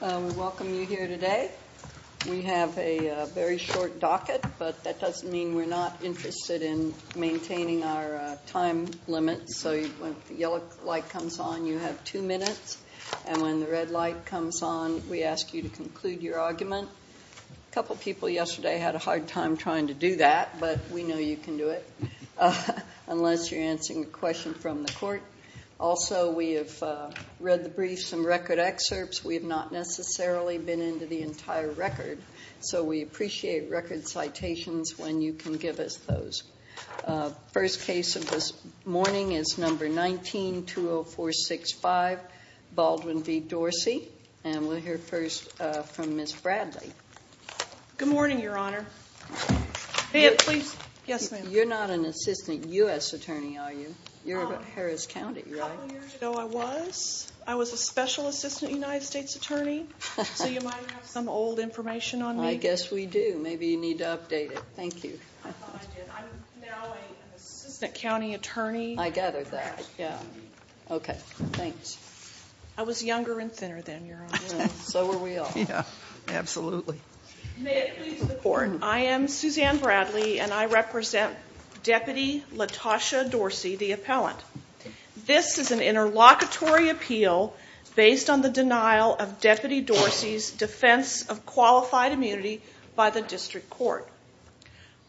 Welcome you here today. We have a very short docket, but that doesn't mean we're not interested in maintaining our time limit. So when the yellow light comes on, you have two minutes, and when the red light comes on, we ask you to conclude your argument. A couple people yesterday had a hard time trying to do that, but we know you can do it, unless you're answering a question from the court. Also, we have read the briefs and record excerpts. We have not necessarily been into the entire record, so we appreciate record citations when you can give us those. First case of this morning is number 19-20465, Baldwin v. Dorsey, and we'll hear first from Ms. Bradley. Good morning, Your Honor. You're not an assistant U.S. attorney, are you? You're with Harris County, right? A couple years ago I was. I was a special assistant United States attorney, so you might have some old information on me. I guess we do. Maybe you need to update it. Thank you. I did. I'm now an assistant county attorney. I gathered that. Okay, thanks. I was younger and thinner then, Your Honor. So were we all. Yeah, absolutely. May it please the Court, I am Suzanne Bradley, and I represent Deputy Latosha Dorsey, the appellant. This is an interlocutory appeal based on the denial of Deputy Dorsey's defense of qualified immunity by the district court.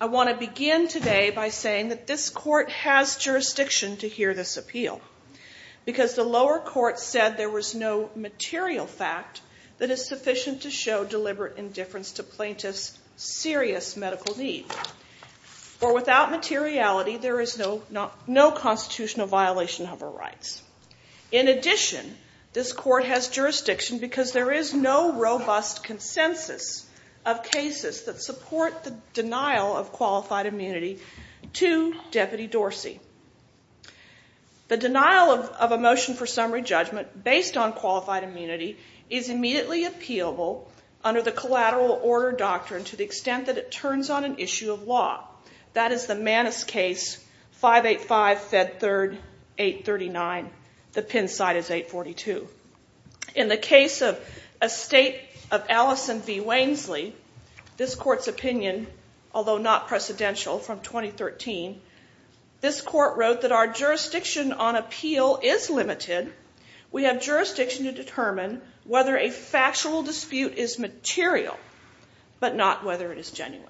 I want to begin today by saying that this court has jurisdiction to hear this appeal. Because the lower court said there was no material fact that is sufficient to show deliberate indifference to plaintiffs' serious medical need. For without materiality, there is no constitutional violation of our rights. In addition, this court has jurisdiction because there is no robust consensus of cases that support the denial of qualified immunity to Deputy Dorsey. The denial of a motion for summary judgment based on qualified immunity is immediately appealable under the collateral order doctrine to the extent that it turns on an issue of law. That is the Manus case, 585, Fed 3rd, 839. The pin side is 842. In the case of a state of Allison v. Wainsley, this court's opinion, although not precedential from 2013, this court wrote that our jurisdiction on appeal is limited. We have jurisdiction to determine whether a factual dispute is material, but not whether it is genuine.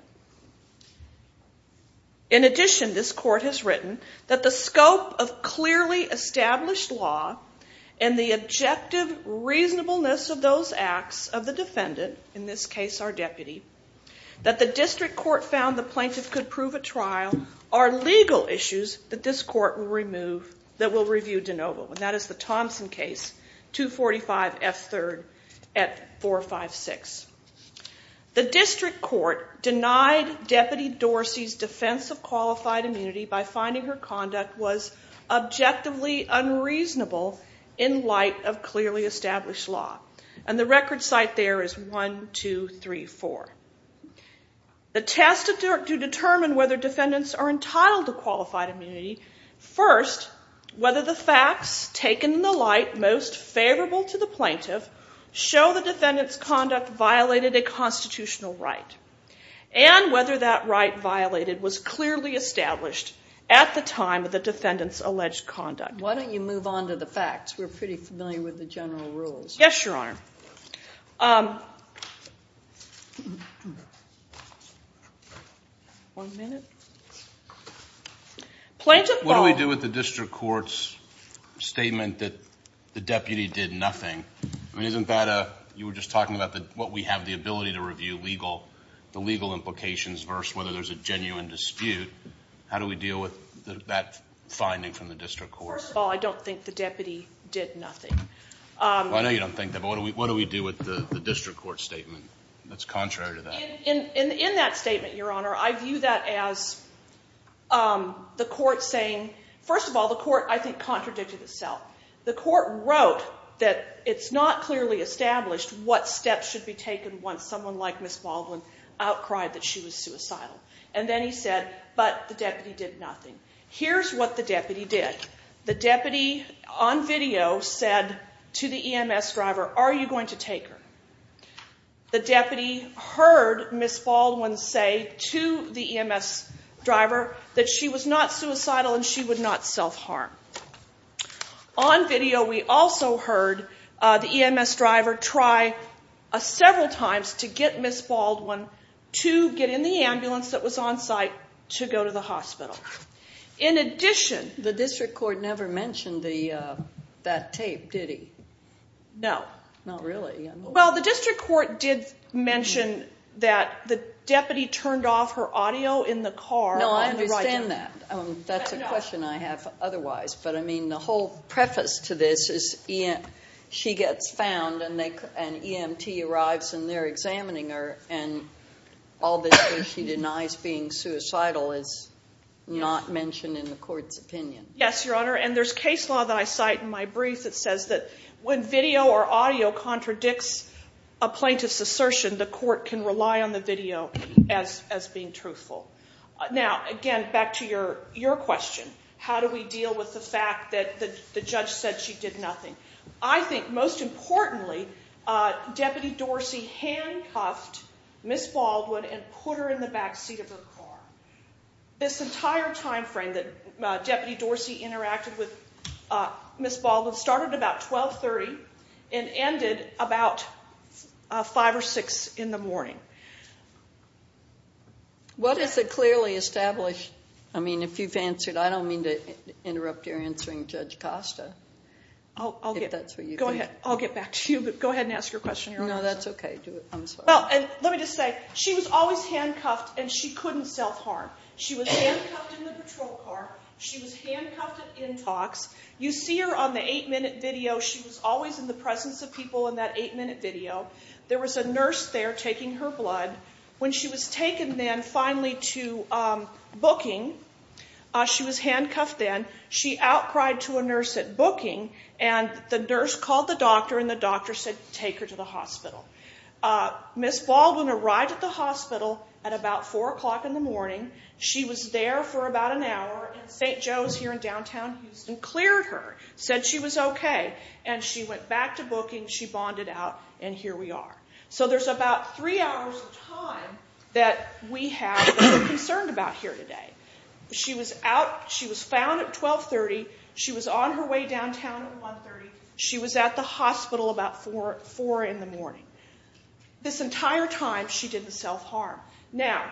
In addition, this court has written that the scope of clearly established law and the objective reasonableness of those acts of the defendant, in this case our deputy, that the district court found the plaintiff could prove at trial are legal issues that this court will review de novo. And that is the Thompson case, 245, F3rd, at 456. The district court denied Deputy Dorsey's defense of qualified immunity by finding her conduct was objectively unreasonable in light of clearly established law. And the record site there is 1, 2, 3, 4. The test to determine whether defendants are entitled to qualified immunity, first, whether the facts taken in the light most favorable to the plaintiff show the defendant's conduct violated a constitutional right and whether that right violated was clearly established at the time of the defendant's alleged conduct. Why don't you move on to the facts? We're pretty familiar with the general rules. Yes, Your Honor. One minute. Plaintiff Paul. What do we do with the district court's statement that the deputy did nothing? I mean, isn't that a, you were just talking about what we have the ability to review legal, the legal implications versus whether there's a genuine dispute. How do we deal with that finding from the district court? First of all, I don't think the deputy did nothing. I know you don't think that, but what do we do with the district court's statement that's contrary to that? In that statement, Your Honor, I view that as the court saying, first of all, the court, I think, contradicted itself. The court wrote that it's not clearly established what steps should be taken once someone like Ms. Baldwin outcried that she was suicidal. And then he said, but the deputy did nothing. Here's what the deputy did. The deputy on video said to the EMS driver, are you going to take her? The deputy heard Ms. Baldwin say to the EMS driver that she was not suicidal and she would not self-harm. On video, we also heard the EMS driver try several times to get Ms. Baldwin to get in the ambulance that was on site to go to the hospital. In addition- The district court never mentioned that tape, did he? No. Not really. Well, the district court did mention that the deputy turned off her audio in the car. No, I understand that. That's a question I have otherwise. But, I mean, the whole preface to this is she gets found and EMT arrives and they're examining her. And all that she denies being suicidal is not mentioned in the court's opinion. Yes, Your Honor. And there's case law that I cite in my brief that says that when video or audio contradicts a plaintiff's assertion, the court can rely on the video as being truthful. Now, again, back to your question. How do we deal with the fact that the judge said she did nothing? I think, most importantly, Deputy Dorsey handcuffed Ms. Baldwin and put her in the back seat of her car. This entire time frame that Deputy Dorsey interacted with Ms. Baldwin started at about 1230 and ended about 5 or 6 in the morning. What is a clearly established- I mean, if you've answered, I don't mean to interrupt your answering, Judge Costa. I'll get back to you, but go ahead and ask your question. No, that's okay. I'm sorry. Let me just say, she was always handcuffed and she couldn't self-harm. She was handcuffed in the patrol car. She was handcuffed at in-talks. You see her on the eight-minute video. She was always in the presence of people in that eight-minute video. There was a nurse there taking her blood. When she was taken then finally to booking, she was handcuffed then. She outcried to a nurse at booking, and the nurse called the doctor, and the doctor said, Take her to the hospital. Ms. Baldwin arrived at the hospital at about 4 o'clock in the morning. She was there for about an hour, and St. Joe's here in downtown Houston cleared her, said she was okay, and she went back to booking. She bonded out, and here we are. So there's about three hours of time that we have that we're concerned about here today. She was found at 12.30. She was on her way downtown at 1.30. She was at the hospital about 4 in the morning. This entire time she didn't self-harm. Now,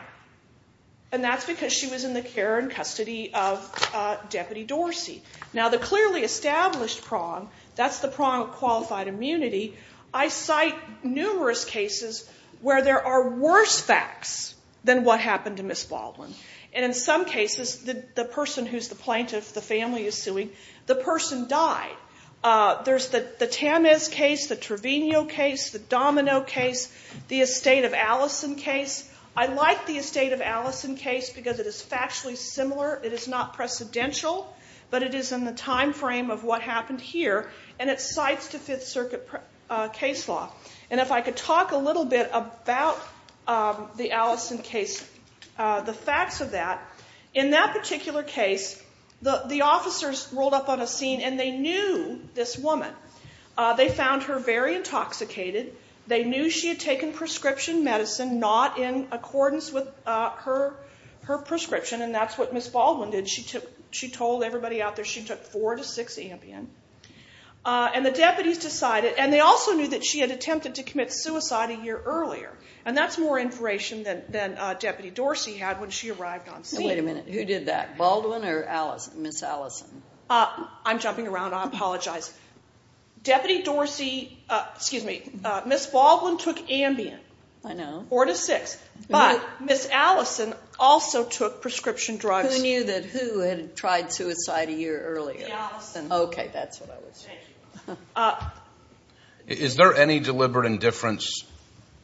and that's because she was in the care and custody of Deputy Dorsey. Now the clearly established prong, that's the prong of qualified immunity. I cite numerous cases where there are worse facts than what happened to Ms. Baldwin. And in some cases, the person who's the plaintiff, the family is suing, the person died. There's the Tamez case, the Trevino case, the Domino case, the Estate of Allison case. I like the Estate of Allison case because it is factually similar. It is not precedential, but it is in the time frame of what happened here, and it cites the Fifth Circuit case law. And if I could talk a little bit about the Allison case, the facts of that. In that particular case, the officers rolled up on a scene and they knew this woman. They found her very intoxicated. They knew she had taken prescription medicine not in accordance with her prescription, and that's what Ms. Baldwin did. She told everybody out there she took 4 to 6 Ambien. And the deputies decided, and they also knew that she had attempted to commit suicide a year earlier, and that's more information than Deputy Dorsey had when she arrived on scene. Wait a minute. Who did that, Baldwin or Ms. Allison? I'm jumping around. I apologize. Deputy Dorsey, excuse me, Ms. Baldwin took Ambien. I know. 4 to 6, but Ms. Allison also took prescription drugs. Who knew that who had tried suicide a year earlier? Ms. Allison. Okay, that's what I was saying. Is there any deliberate indifference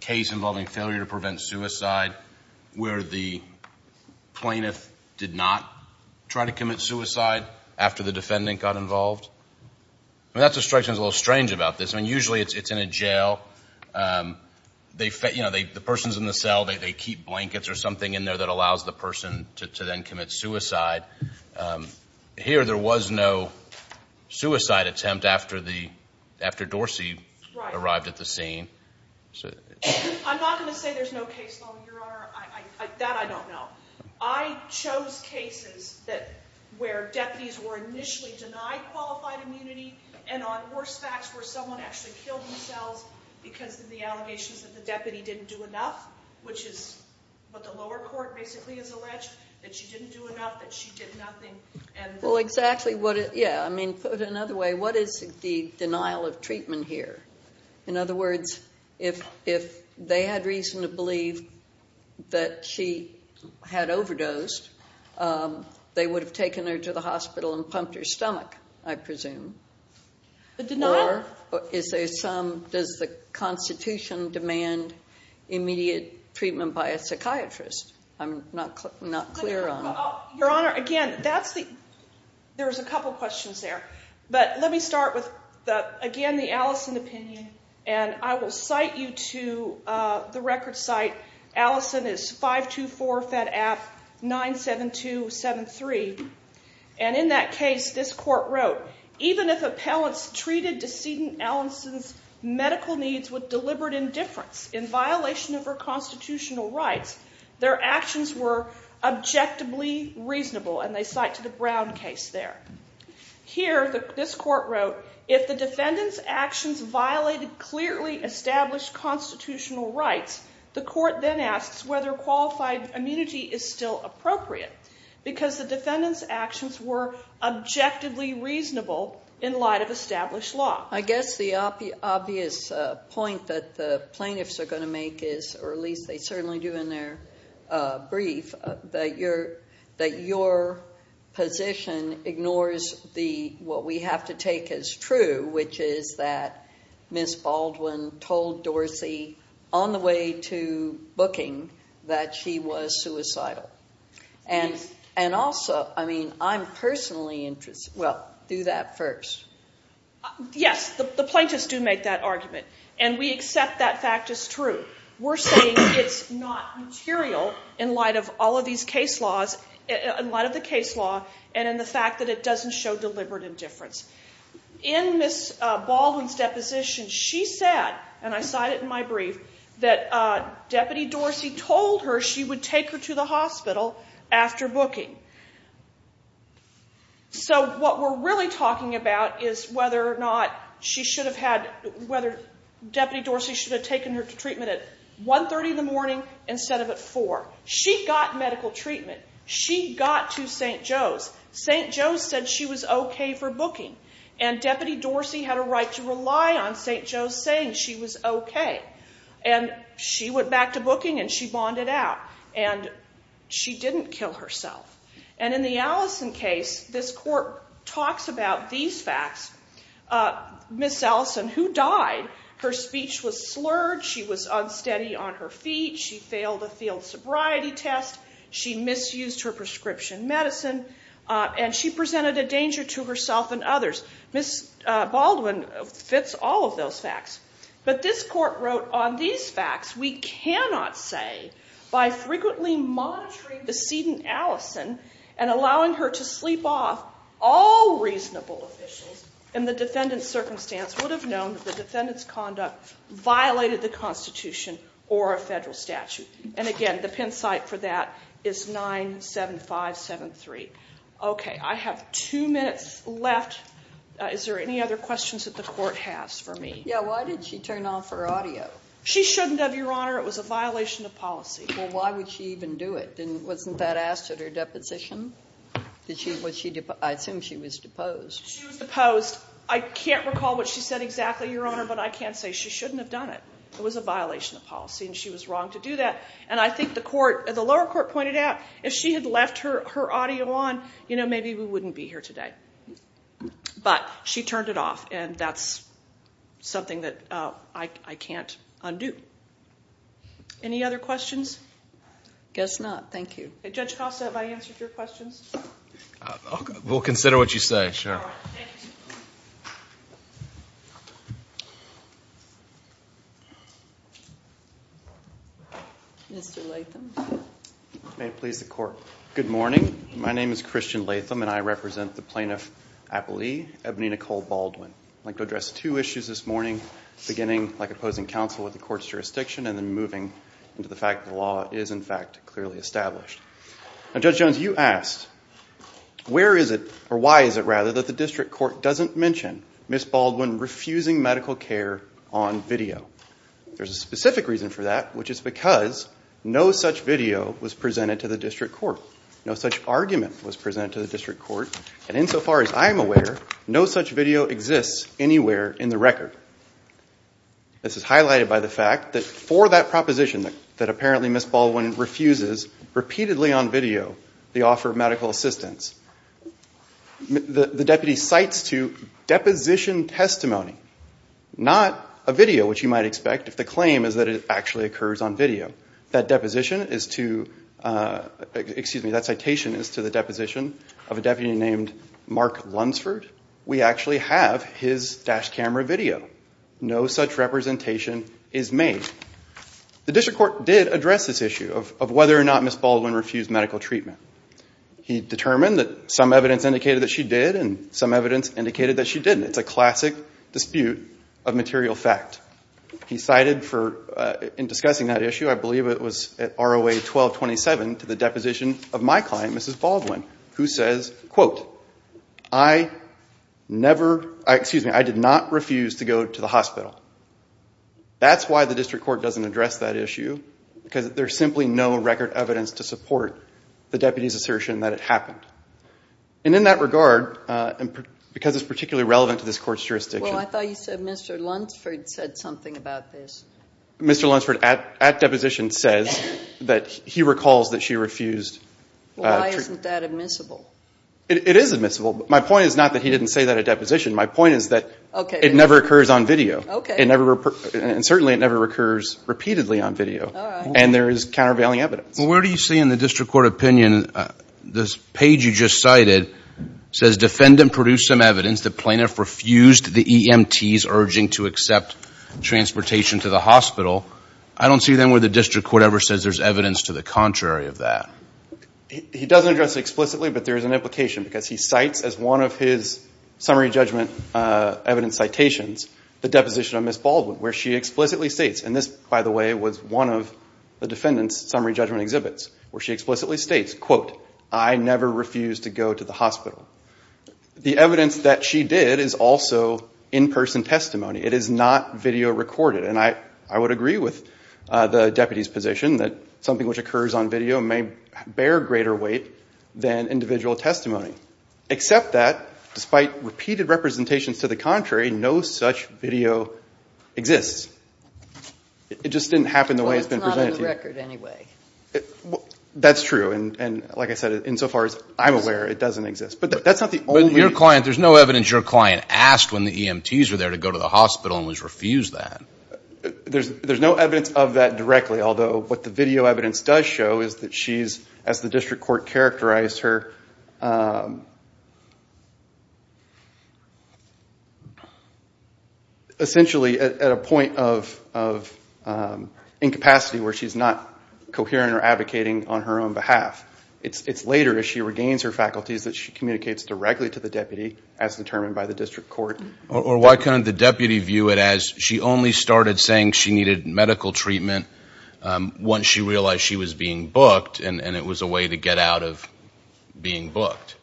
case involving failure to prevent suicide where the plaintiff did not try to commit suicide after the defendant got involved? I mean, that's what strikes me as a little strange about this. I mean, usually it's in a jail. The person's in the cell. They keep blankets or something in there that allows the person to then commit suicide. Here there was no suicide attempt after Dorsey arrived at the scene. I'm not going to say there's no case, though, Your Honor. That I don't know. I chose cases where deputies were initially denied qualified immunity and on worse facts where someone actually killed themselves because of the allegations that the deputy didn't do enough, which is what the lower court basically has alleged, that she didn't do enough, that she did nothing. Well, exactly. Yeah, I mean, put it another way, what is the denial of treatment here? In other words, if they had reason to believe that she had overdosed, they would have taken her to the hospital and pumped her stomach, I presume. The denial? Or is there some, does the Constitution demand immediate treatment by a psychiatrist? I'm not clear on that. Your Honor, again, there's a couple questions there. But let me start with, again, the Allison opinion. And I will cite you to the record site. Allison is 524-FED-AF-97273. And in that case, this court wrote, even if appellants treated decedent Allison's medical needs with deliberate indifference in violation of her constitutional rights, their actions were objectively reasonable. And they cite to the Brown case there. Here, this court wrote, if the defendant's actions violated clearly established constitutional rights, the court then asks whether qualified immunity is still appropriate because the defendant's actions were objectively reasonable in light of established law. I guess the obvious point that the plaintiffs are going to make is, or at least they certainly do in their brief, that your position ignores what we have to take as true, which is that Ms. Baldwin told Dorsey on the way to booking that she was suicidal. And also, I mean, I'm personally interested, well, do that first. Yes, the plaintiffs do make that argument, and we accept that fact as true. We're saying it's not material in light of all of these case laws, in light of the case law and in the fact that it doesn't show deliberate indifference. In Ms. Baldwin's deposition, she said, and I cite it in my brief, that Deputy Dorsey told her she would take her to the hospital after booking. So what we're really talking about is whether or not she should have had, whether Deputy Dorsey should have taken her to treatment at 1.30 in the morning instead of at 4. She got medical treatment. She got to St. Joe's. St. Joe's said she was okay for booking, and Deputy Dorsey had a right to rely on St. Joe's saying she was okay. And she went back to booking, and she bonded out. And she didn't kill herself. And in the Allison case, this court talks about these facts. Ms. Allison, who died, her speech was slurred. She was unsteady on her feet. She failed a field sobriety test. She misused her prescription medicine, and she presented a danger to herself and others. Ms. Baldwin fits all of those facts. But this court wrote on these facts, we cannot say by frequently monitoring decedent Allison and allowing her to sleep off all reasonable officials, in the defendant's circumstance would have known that the defendant's conduct violated the Constitution or a federal statute. And again, the pin site for that is 97573. Okay, I have two minutes left. Is there any other questions that the court has for me? Yeah, why did she turn off her audio? She shouldn't have, Your Honor. It was a violation of policy. Well, why would she even do it? Wasn't that asked at her deposition? I assume she was deposed. She was deposed. I can't recall what she said exactly, Your Honor, but I can say she shouldn't have done it. It was a violation of policy, and she was wrong to do that. And I think the lower court pointed out if she had left her audio on, you know, maybe we wouldn't be here today. But she turned it off, and that's something that I can't undo. Any other questions? Guess not. Thank you. Judge Costa, have I answered your questions? We'll consider what you say, sure. Mr. Latham. May it please the Court. Good morning. My name is Christian Latham, and I represent the Plaintiff-Appellee, Ebony Nicole Baldwin. I'd like to address two issues this morning, beginning by opposing counsel with the Court's jurisdiction and then moving into the fact that the law is, in fact, clearly established. Now, Judge Jones, you asked where is it, or why is it, rather, that the district court doesn't mention Ms. Baldwin refusing medical care on video. There's a specific reason for that, which is because no such video was presented to the district court, no such argument was presented to the district court, and insofar as I'm aware, no such video exists anywhere in the record. This is highlighted by the fact that for that proposition, that apparently Ms. Baldwin refuses repeatedly on video the offer of medical assistance, the deputy cites to deposition testimony, not a video, which you might expect if the claim is that it actually occurs on video. That deposition is to, excuse me, that citation is to the deposition of a deputy named Mark Lunsford. We actually have his dash camera video. No such representation is made. The district court did address this issue of whether or not Ms. Baldwin refused medical treatment. He determined that some evidence indicated that she did, and some evidence indicated that she didn't. It's a classic dispute of material fact. He cited for, in discussing that issue, I believe it was at ROA 1227 to the deposition of my client, Mrs. Baldwin, who says, quote, I never, excuse me, I did not refuse to go to the hospital. That's why the district court doesn't address that issue, because there's simply no record evidence to support the deputy's assertion that it happened. And in that regard, because it's particularly relevant to this court's jurisdiction. Well, I thought you said Mr. Lunsford said something about this. Mr. Lunsford at deposition says that he recalls that she refused treatment. Why isn't that admissible? It is admissible. My point is not that he didn't say that at deposition. My point is that it never occurs on video. Okay. And certainly it never occurs repeatedly on video. All right. And there is countervailing evidence. Where do you see in the district court opinion, this page you just cited says defendant produced some evidence. The plaintiff refused the EMT's urging to accept transportation to the hospital. I don't see then where the district court ever says there's evidence to the contrary of that. He doesn't address it explicitly, but there is an implication, because he cites as one of his summary judgment evidence citations the deposition of Mrs. Baldwin, where she explicitly states, and this, by the way, was one of the defendant's summary judgment exhibits, where she explicitly states, quote, I never refused to go to the hospital. The evidence that she did is also in-person testimony. It is not video recorded, and I would agree with the deputy's position that something which occurs on video may bear greater weight than individual testimony, except that despite repeated representations to the contrary, no such video exists. It just didn't happen the way it's been presented to you. Well, it's not on the record anyway. That's true, and like I said, insofar as I'm aware, it doesn't exist. But that's not the only reason. But your client, there's no evidence your client asked when the EMT's were there to go to the hospital and was refused that. There's no evidence of that directly, although what the video evidence does show is that she's, as the district court characterized her, essentially at a point of incapacity where she's not coherent or advocating on her own behalf. It's later, as she regains her faculties, that she communicates directly to the deputy, as determined by the district court. Or why couldn't the deputy view it as she only started saying she needed medical treatment once she realized she was being booked and it was a way to get out of being booked?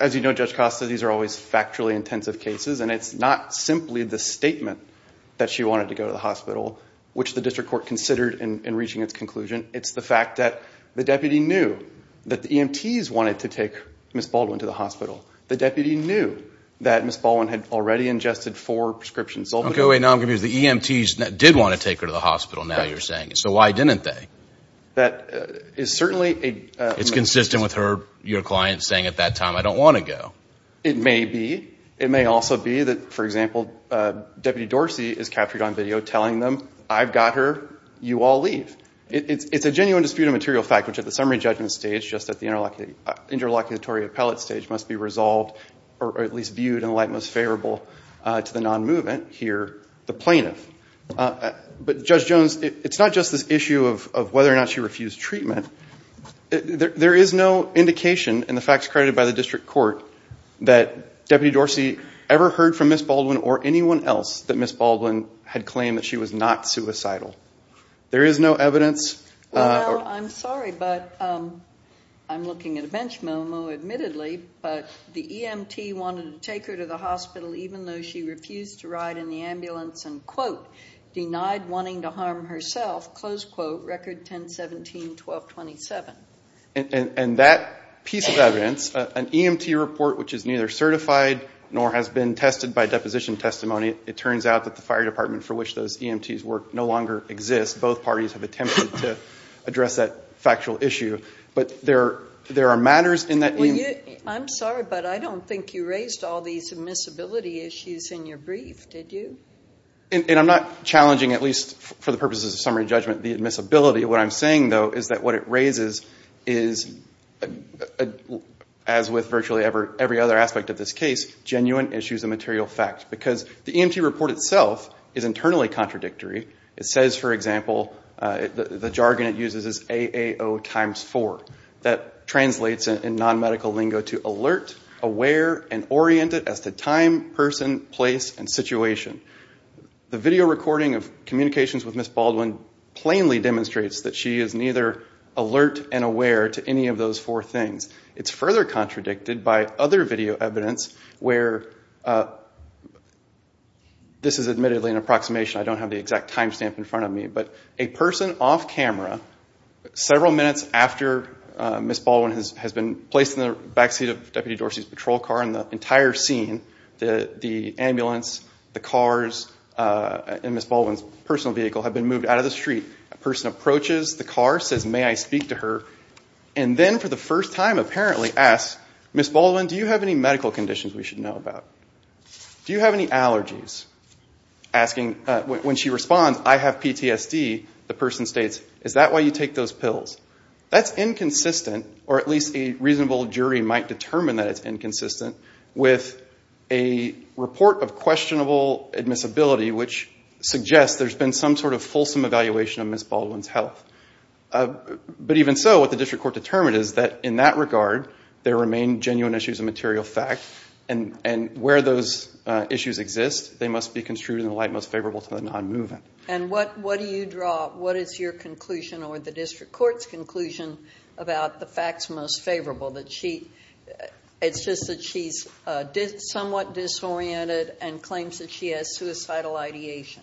As you know, Judge Costa, these are always factually intensive cases, and it's not simply the statement that she wanted to go to the hospital, which the district court considered in reaching its conclusion. It's the fact that the deputy knew that the EMT's wanted to take Ms. Baldwin to the hospital. The deputy knew that Ms. Baldwin had already ingested four prescriptions. Okay, wait, now I'm confused. The EMT's did want to take her to the hospital, now you're saying. So why didn't they? It's consistent with your client saying at that time, I don't want to go. It may be. It may also be that, for example, Deputy Dorsey is captured on video telling them, I've got her, you all leave. It's a genuine dispute of material fact, which at the summary judgment stage, just at the interlocutory appellate stage, must be resolved or at least viewed in the light most favorable to the non-movement here, the plaintiff. But, Judge Jones, it's not just this issue of whether or not she refused treatment. There is no indication in the facts credited by the district court that Deputy Dorsey ever heard from Ms. Baldwin or anyone else that Ms. Baldwin had claimed that she was not suicidal. There is no evidence. I'm sorry, but I'm looking at a bench memo, admittedly, but the EMT wanted to take her to the hospital even though she refused to ride in the ambulance and quote, denied wanting to harm herself, close quote, record 10-17-12-27. And that piece of evidence, an EMT report which is neither certified nor has been tested by deposition testimony, it turns out that the fire department for which those EMTs work no longer exists. Both parties have attempted to address that factual issue, but there are matters in that EMT. I'm sorry, but I don't think you raised all these admissibility issues in your brief, did you? And I'm not challenging, at least for the purposes of summary judgment, the admissibility. What I'm saying, though, is that what it raises is, as with virtually every other aspect of this case, genuine issues of material fact because the EMT report itself is internally contradictory. It says, for example, the jargon it uses is A-A-O times four. That translates in non-medical lingo to alert, aware, and oriented as to time, person, place, and situation. The video recording of communications with Ms. Baldwin plainly demonstrates that she is neither alert and aware to any of those four things. It's further contradicted by other video evidence where this is admittedly an approximation. I don't have the exact time stamp in front of me. But a person off camera several minutes after Ms. Baldwin has been placed in the backseat of Deputy Dorsey's patrol car in the entire scene, the ambulance, the cars, and Ms. Baldwin's personal vehicle have been moved out of the street. A person approaches the car, says, may I speak to her, and then for the first time apparently asks, Ms. Baldwin, do you have any medical conditions we should know about? Do you have any allergies? When she responds, I have PTSD, the person states, is that why you take those pills? That's inconsistent, or at least a reasonable jury might determine that it's inconsistent, with a report of questionable admissibility which suggests there's been some sort of fulsome evaluation of Ms. Baldwin's health. But even so, what the district court determined is that in that regard, there remain genuine issues of material fact and where those issues exist, they must be construed in the light most favorable to the non-movement. And what do you draw? What is your conclusion or the district court's conclusion about the facts most favorable? It's just that she's somewhat disoriented and claims that she has suicidal ideation.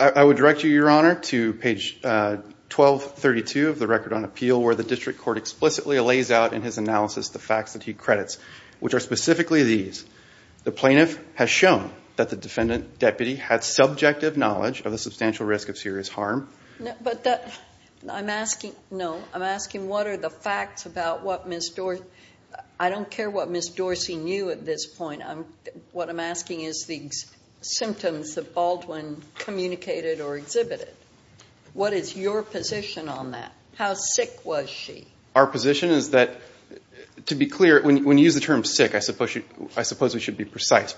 I would direct you, Your Honor, to page 1232 of the record on appeal where the district court explicitly lays out in his analysis the facts that he credits, which are specifically these. The plaintiff has shown that the defendant deputy had subjective knowledge of the substantial risk of serious harm. But I'm asking, no, I'm asking what are the facts about what Ms. Dorsey, I don't care what Ms. Dorsey knew at this point, what I'm asking is the symptoms that Baldwin communicated or exhibited. What is your position on that? How sick was she? Our position is that, to be clear, when you use the term sick, I suppose we should be precise.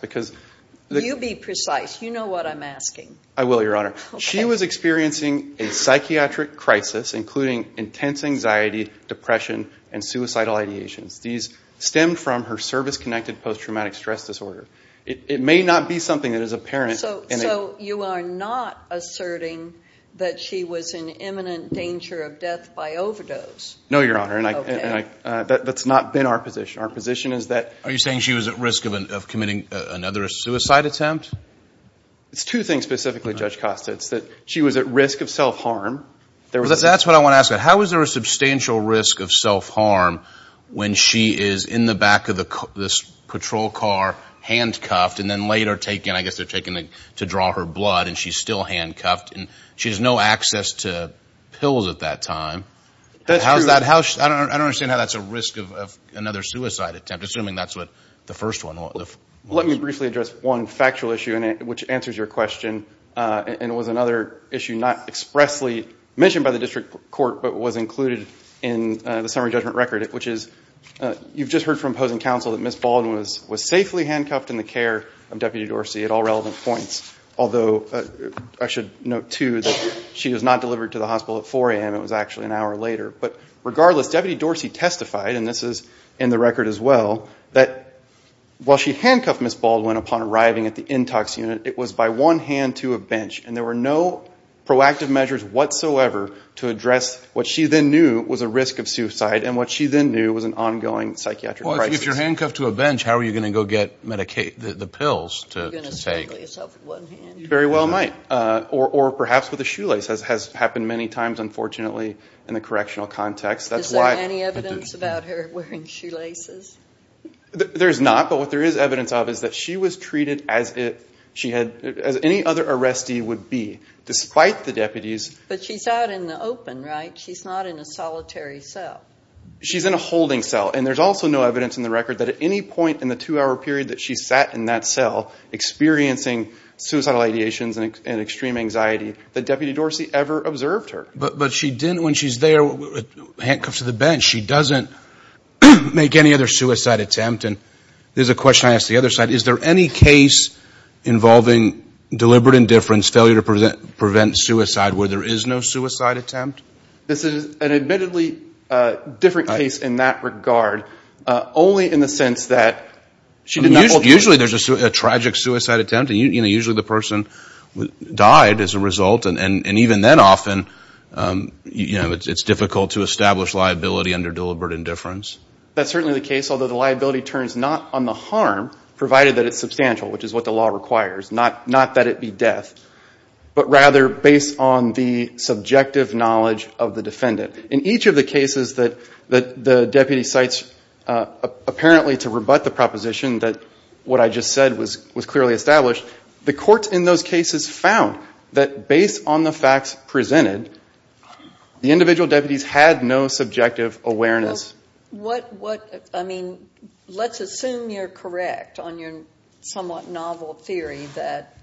You be precise. You know what I'm asking. I will, Your Honor. She was experiencing a psychiatric crisis, including intense anxiety, depression, and suicidal ideations. These stemmed from her service-connected post-traumatic stress disorder. It may not be something that is apparent. So you are not asserting that she was in imminent danger of death by overdose? No, Your Honor. Okay. That's not been our position. Our position is that— Are you saying she was at risk of committing another suicide attempt? It's two things specifically, Judge Costa. It's that she was at risk of self-harm. That's what I want to ask. How is there a substantial risk of self-harm when she is in the back of this patrol car handcuffed and then later taken, I guess they're taken to draw her blood, and she's still handcuffed? She has no access to pills at that time. That's true. I don't understand how that's a risk of another suicide attempt, assuming that's the first one. Let me briefly address one factual issue, which answers your question, and it was another issue not expressly mentioned by the district court but was included in the summary judgment record, which is you've just heard from opposing counsel that Ms. Baldwin was safely handcuffed in the care of Deputy Dorsey at all relevant points, although I should note, too, that she was not delivered to the hospital at 4 a.m. It was actually an hour later. But regardless, Deputy Dorsey testified, and this is in the record as well, that while she handcuffed Ms. Baldwin upon arriving at the intox unit, it was by one hand to a bench, and there were no proactive measures whatsoever to address what she then knew was a risk of suicide and what she then knew was an ongoing psychiatric crisis. Well, if you're handcuffed to a bench, how are you going to go get the pills to take? You're going to strangle yourself with one hand? Very well might, or perhaps with a shoelace. It has happened many times, unfortunately, in the correctional context. Is there any evidence about her wearing shoelaces? There is not, but what there is evidence of is that she was treated as any other arrestee would be, despite the deputies. But she's out in the open, right? She's not in a solitary cell. She's in a holding cell, and there's also no evidence in the record that at any point in the two-hour period that she sat in that cell experiencing suicidal ideations and extreme anxiety that Deputy Dorsey ever observed her. But when she's there handcuffed to the bench, she doesn't make any other suicide attempt. And there's a question I asked the other side. Is there any case involving deliberate indifference, failure to prevent suicide, where there is no suicide attempt? This is an admittedly different case in that regard, only in the sense that she did not alternate. Usually there's a tragic suicide attempt, and usually the person died as a result, and even then often it's difficult to establish liability under deliberate indifference. That's certainly the case, although the liability turns not on the harm, provided that it's substantial, which is what the law requires, not that it be death, but rather based on the subjective knowledge of the defendant. In each of the cases that the deputy cites, apparently to rebut the proposition that what I just said was clearly established, the courts in those cases found that based on the facts presented, the individual deputies had no subjective awareness. Let's assume you're correct on your somewhat novel theory that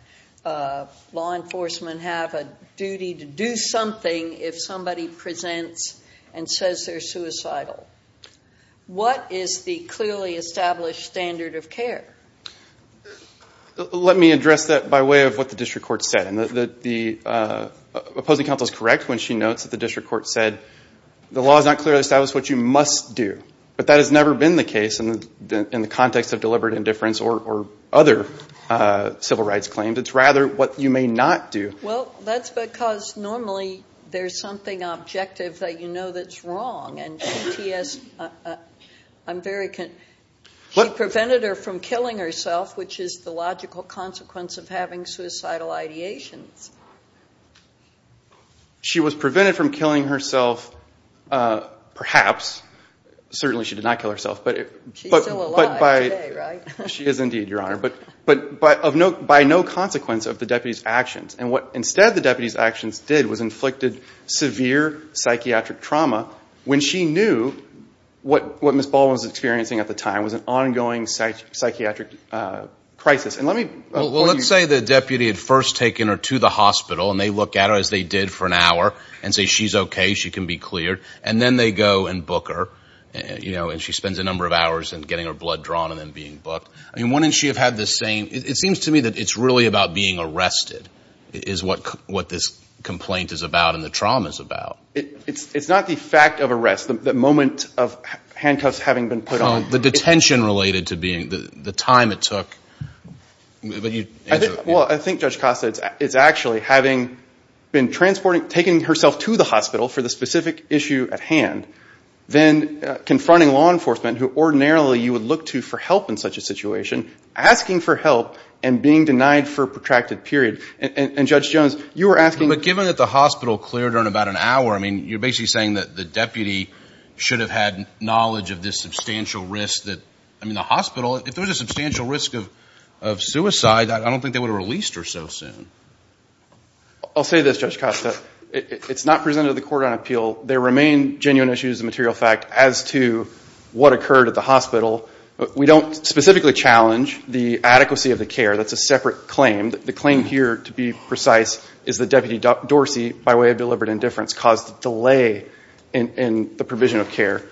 law enforcement have a duty to do something if somebody presents and says they're suicidal. What is the clearly established standard of care? Let me address that by way of what the district court said. The opposing counsel is correct when she notes that the district court said, the law has not clearly established what you must do, but that has never been the case in the context of deliberate indifference or other civil rights claims. It's rather what you may not do. Well, that's because normally there's something objective that you know that's wrong, and she prevented her from killing herself, which is the logical consequence of having suicidal ideations. She was prevented from killing herself, perhaps. Certainly she did not kill herself. She's still alive today, right? She is indeed, Your Honor. But by no consequence of the deputy's actions. And what instead the deputy's actions did was inflicted severe psychiatric trauma when she knew what Ms. Baldwin was experiencing at the time was an ongoing psychiatric crisis. Well, let's say the deputy had first taken her to the hospital, and they look at her as they did for an hour and say she's okay, she can be cleared. And then they go and book her, and she spends a number of hours in getting her blood drawn and then being booked. I mean, wouldn't she have had the same? It seems to me that it's really about being arrested is what this complaint is about and the trauma is about. It's not the fact of arrest, the moment of handcuffs having been put on. The detention related to being, the time it took. Well, I think Judge Costa is actually having been transporting, taking herself to the hospital for the specific issue at hand, then confronting law enforcement who ordinarily you would look to for help in such a situation, asking for help and being denied for a protracted period. And Judge Jones, you were asking. But given that the hospital cleared her in about an hour, I mean, you're basically saying that the deputy should have had knowledge of this substantial risk. I mean, the hospital, if there was a substantial risk of suicide, I don't think they would have released her so soon. I'll say this, Judge Costa, it's not presented to the court on appeal. There remain genuine issues of material fact as to what occurred at the hospital. We don't specifically challenge the adequacy of the care. That's a separate claim. The claim here, to be precise, is that Deputy Dorsey, by way of deliberate indifference, caused a delay in the provision of care.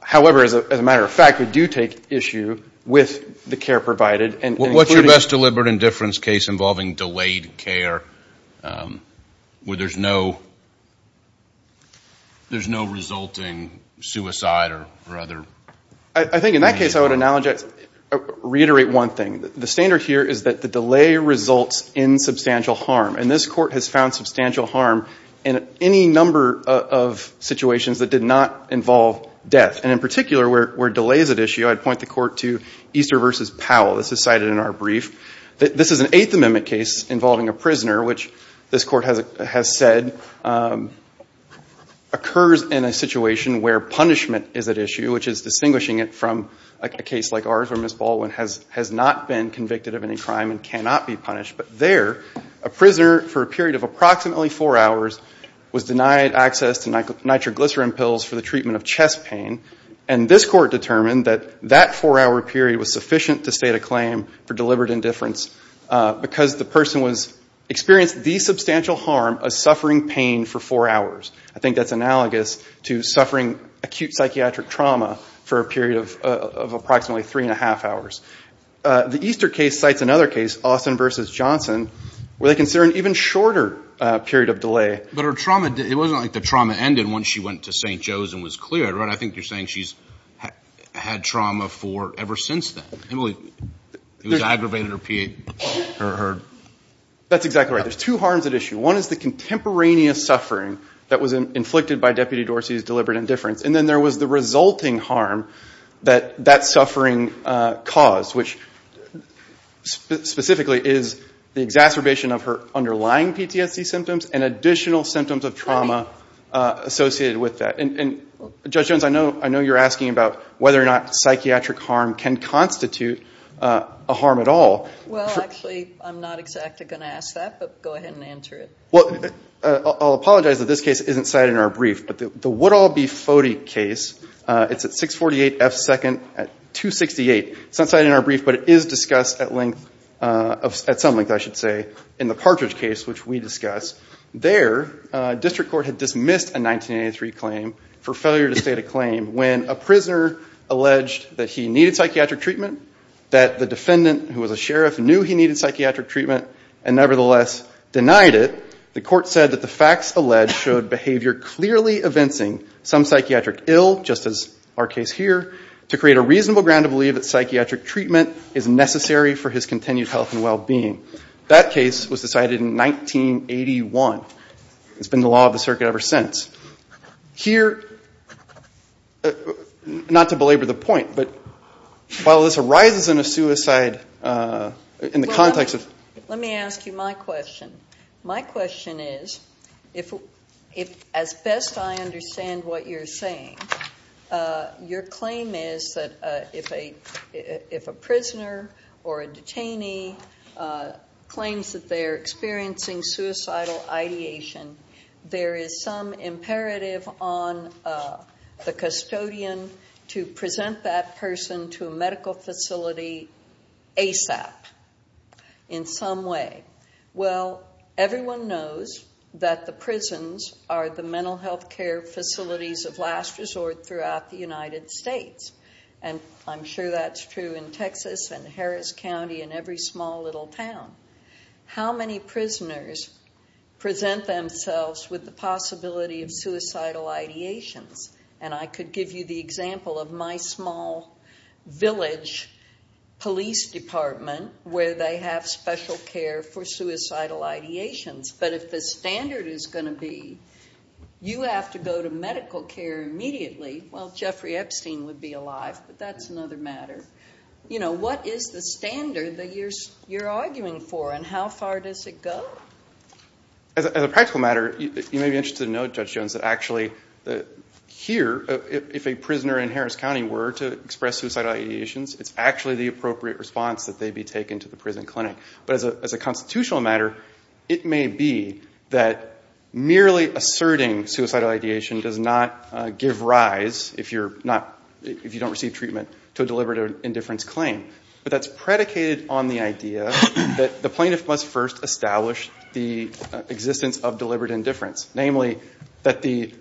However, as a matter of fact, we do take issue with the care provided. What's your best deliberate indifference case involving delayed care where there's no resulting suicide or other? I think in that case I would reiterate one thing. The standard here is that the delay results in substantial harm. And this court has found substantial harm in any number of situations that did not involve death. And in particular, where delay is at issue, I'd point the court to Easter v. Powell. This is cited in our brief. This is an Eighth Amendment case involving a prisoner, which this court has said occurs in a situation where punishment is at issue, which is distinguishing it from a case like ours where Ms. Baldwin has not been convicted of any crime and cannot be punished. But there, a prisoner for a period of approximately four hours was denied access to nitroglycerin pills for the treatment of chest pain. And this court determined that that four-hour period was sufficient to state a claim for deliberate indifference because the person experienced the substantial harm of suffering pain for four hours. I think that's analogous to suffering acute psychiatric trauma for a period of approximately three-and-a-half hours. The Easter case cites another case, Austin v. Johnson, where they consider an even shorter period of delay. But her trauma, it wasn't like the trauma ended once she went to St. Joe's and was cleared, right? I think you're saying she's had trauma for ever since then. It was aggravated or her? That's exactly right. There's two harms at issue. One is the contemporaneous suffering that was inflicted by Deputy Dorsey's deliberate indifference. And then there was the resulting harm that that suffering caused, which specifically is the exacerbation of her underlying PTSD symptoms and additional symptoms of trauma associated with that. And Judge Jones, I know you're asking about whether or not psychiatric harm can constitute a harm at all. Well, actually, I'm not exactly going to ask that, but go ahead and answer it. Well, I'll apologize that this case isn't cited in our brief, but the Woodall v. Foti case, it's at 648 F. 2nd at 268. It's not cited in our brief, but it is discussed at some length in the Partridge case, which we discuss. There, district court had dismissed a 1983 claim for failure to state a claim when a prisoner alleged that he needed psychiatric treatment, that the defendant, who was a sheriff, knew he needed psychiatric treatment and nevertheless denied it. The court said that the facts alleged showed behavior clearly evincing some psychiatric ill, just as our case here, to create a reasonable ground to believe that psychiatric treatment is necessary for his continued health and well-being. That case was decided in 1981. It's been the law of the circuit ever since. Here, not to belabor the point, but while this arises in a suicide, in the context of- Let me ask you my question. My question is, as best I understand what you're saying, your claim is that if a prisoner or a detainee claims that they are experiencing suicidal ideation, there is some imperative on the custodian to present that person to a medical facility ASAP, in some way. Well, everyone knows that the prisons are the mental health care facilities of last resort throughout the United States, and I'm sure that's true in Texas and Harris County and every small little town. How many prisoners present themselves with the possibility of suicidal ideations? And I could give you the example of my small village police department, where they have special care for suicidal ideations. But if the standard is going to be you have to go to medical care immediately, well, Jeffrey Epstein would be alive, but that's another matter. What is the standard that you're arguing for, and how far does it go? As a practical matter, you may be interested to know, Judge Jones, that actually here, if a prisoner in Harris County were to express suicidal ideations, it's actually the appropriate response that they be taken to the prison clinic. But as a constitutional matter, it may be that merely asserting suicidal ideation does not give rise, if you don't receive treatment, to a deliberate indifference claim. But that's predicated on the idea that the plaintiff must first establish the existence of deliberate indifference, namely that the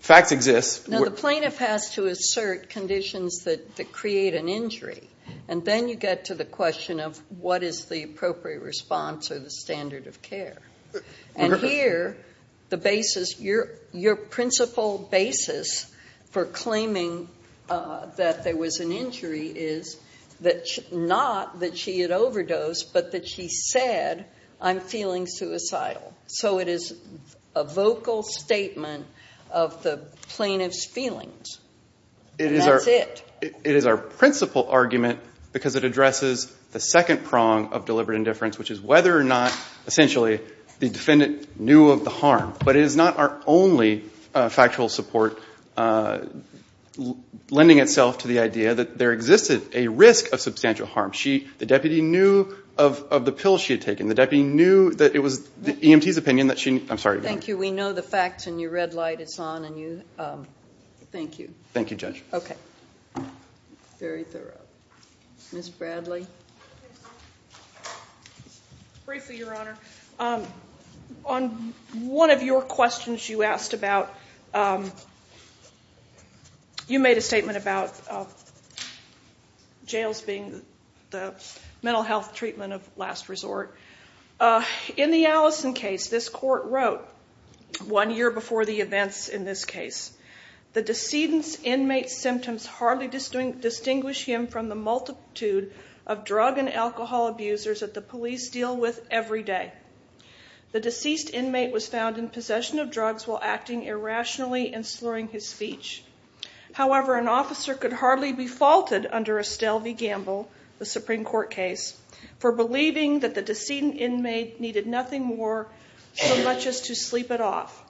facts exist. Now, the plaintiff has to assert conditions that create an injury, and then you get to the question of what is the appropriate response or the standard of care. And here, your principal basis for claiming that there was an injury is not that she had overdosed, but that she said, I'm feeling suicidal. So it is a vocal statement of the plaintiff's feelings, and that's it. It is our principal argument because it addresses the second prong of deliberate indifference, which is whether or not, essentially, the defendant knew of the harm. But it is not our only factual support lending itself to the idea that there existed a risk of substantial harm. The deputy knew of the pill she had taken. The deputy knew that it was the EMT's opinion that she needed. I'm sorry. Thank you. We know the facts, and your red light is on. Thank you. Thank you, Judge. Okay. Very thorough. Ms. Bradley. Briefly, Your Honor. On one of your questions you asked about, you made a statement about jails being the mental health treatment of last resort. In the Allison case, this court wrote one year before the events in this case, the decedent's inmate's symptoms hardly distinguish him from the multitude of drug and alcohol abusers that the police deal with every day. The deceased inmate was found in possession of drugs while acting irrationally and slurring his speech. However, an officer could hardly be faulted under Estelle v. Gamble, the Supreme Court case, for believing that the decedent inmate needed nothing more so much as to sleep it off.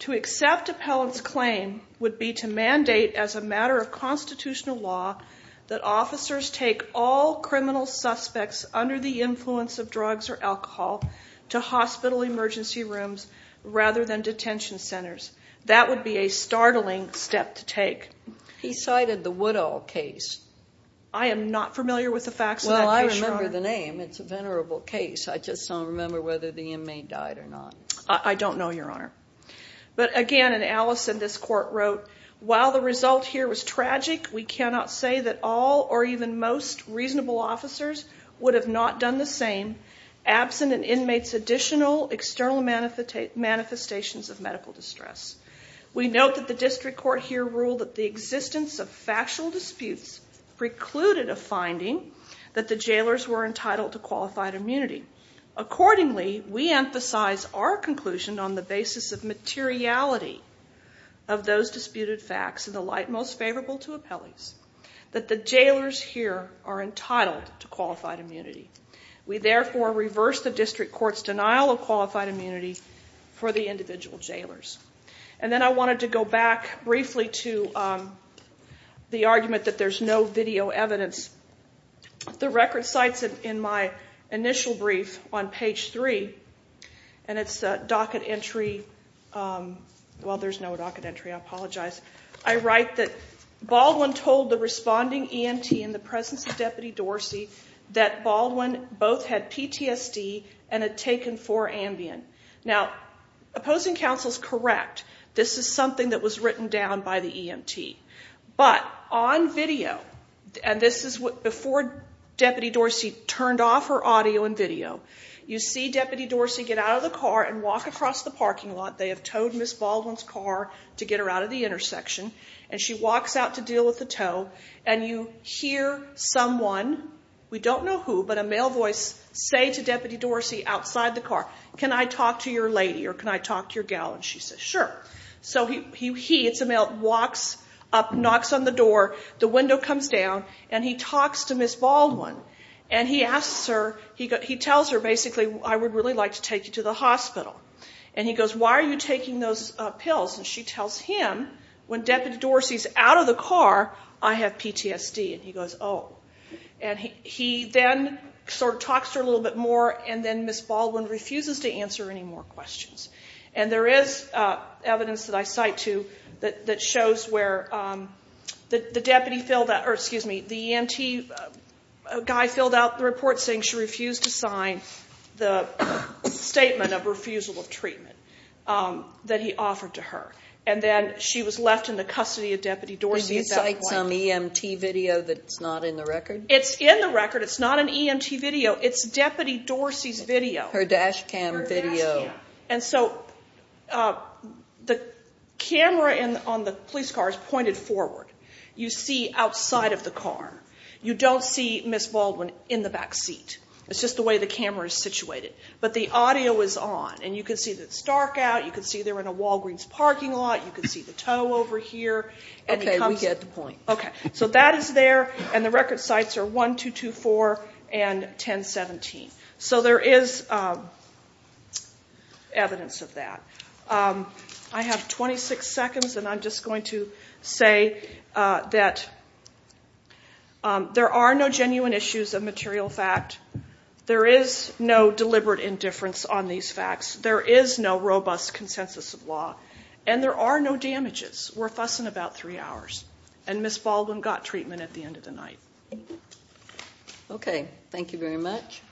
To accept appellant's claim would be to mandate as a matter of constitutional law that officers take all criminal suspects under the influence of drugs or alcohol to hospital emergency rooms rather than detention centers. That would be a startling step to take. He cited the Woodall case. I am not familiar with the facts of that case, Your Honor. Well, I remember the name. It's a venerable case. I just don't remember whether the inmate died or not. I don't know, Your Honor. But again, in Allison, this court wrote, while the result here was tragic, we cannot say that all or even most reasonable officers would have not done the same absent an inmate's additional external manifestations of medical distress. We note that the district court here ruled that the existence of factual disputes precluded a finding that the jailers were entitled to qualified immunity. Accordingly, we emphasize our conclusion on the basis of materiality of those disputed facts in the light most favorable to appellees that the jailers here are entitled to qualified immunity. We therefore reverse the district court's denial of qualified immunity for the individual jailers. And then I wanted to go back briefly to the argument that there's no video evidence. The record cites in my initial brief on page 3, and it's a docket entry. Well, there's no docket entry. I apologize. I write that Baldwin told the responding EMT in the presence of Deputy Dorsey that Baldwin both had PTSD and had taken 4-Ambien. Now, opposing counsel is correct. This is something that was written down by the EMT. But on video, and this is before Deputy Dorsey turned off her audio and video, you see Deputy Dorsey get out of the car and walk across the parking lot. They have towed Ms. Baldwin's car to get her out of the intersection, and she walks out to deal with the tow, and you hear someone, we don't know who, but a male voice say to Deputy Dorsey outside the car, can I talk to your lady or can I talk to your gal? And she says, sure. So he, it's a male, walks up, knocks on the door, the window comes down, and he talks to Ms. Baldwin. And he tells her, basically, I would really like to take you to the hospital. And he goes, why are you taking those pills? And she tells him, when Deputy Dorsey's out of the car, I have PTSD. And he goes, oh. And he then sort of talks to her a little bit more, and then Ms. Baldwin refuses to answer any more questions. And there is evidence that I cite, too, that shows where the deputy filled out, or excuse me, the EMT guy filled out the report saying she refused to sign the statement of refusal of treatment that he offered to her. And then she was left in the custody of Deputy Dorsey. Is that some EMT video that's not in the record? It's in the record. It's not an EMT video. It's Deputy Dorsey's video. Her dash cam video. And so the camera on the police car is pointed forward. You see outside of the car. You don't see Ms. Baldwin in the back seat. It's just the way the camera is situated. But the audio is on, and you can see that it's dark out. You can see they're in a Walgreens parking lot. You can see the tow over here. Okay, we get the point. Okay. So that is there, and the record sites are 1224 and 1017. So there is evidence of that. I have 26 seconds, and I'm just going to say that there are no genuine issues of material fact. There is no deliberate indifference on these facts. There is no robust consensus of law, and there are no damages. We're fussing about three hours. And Ms. Baldwin got treatment at the end of the night. Okay. Thank you very much.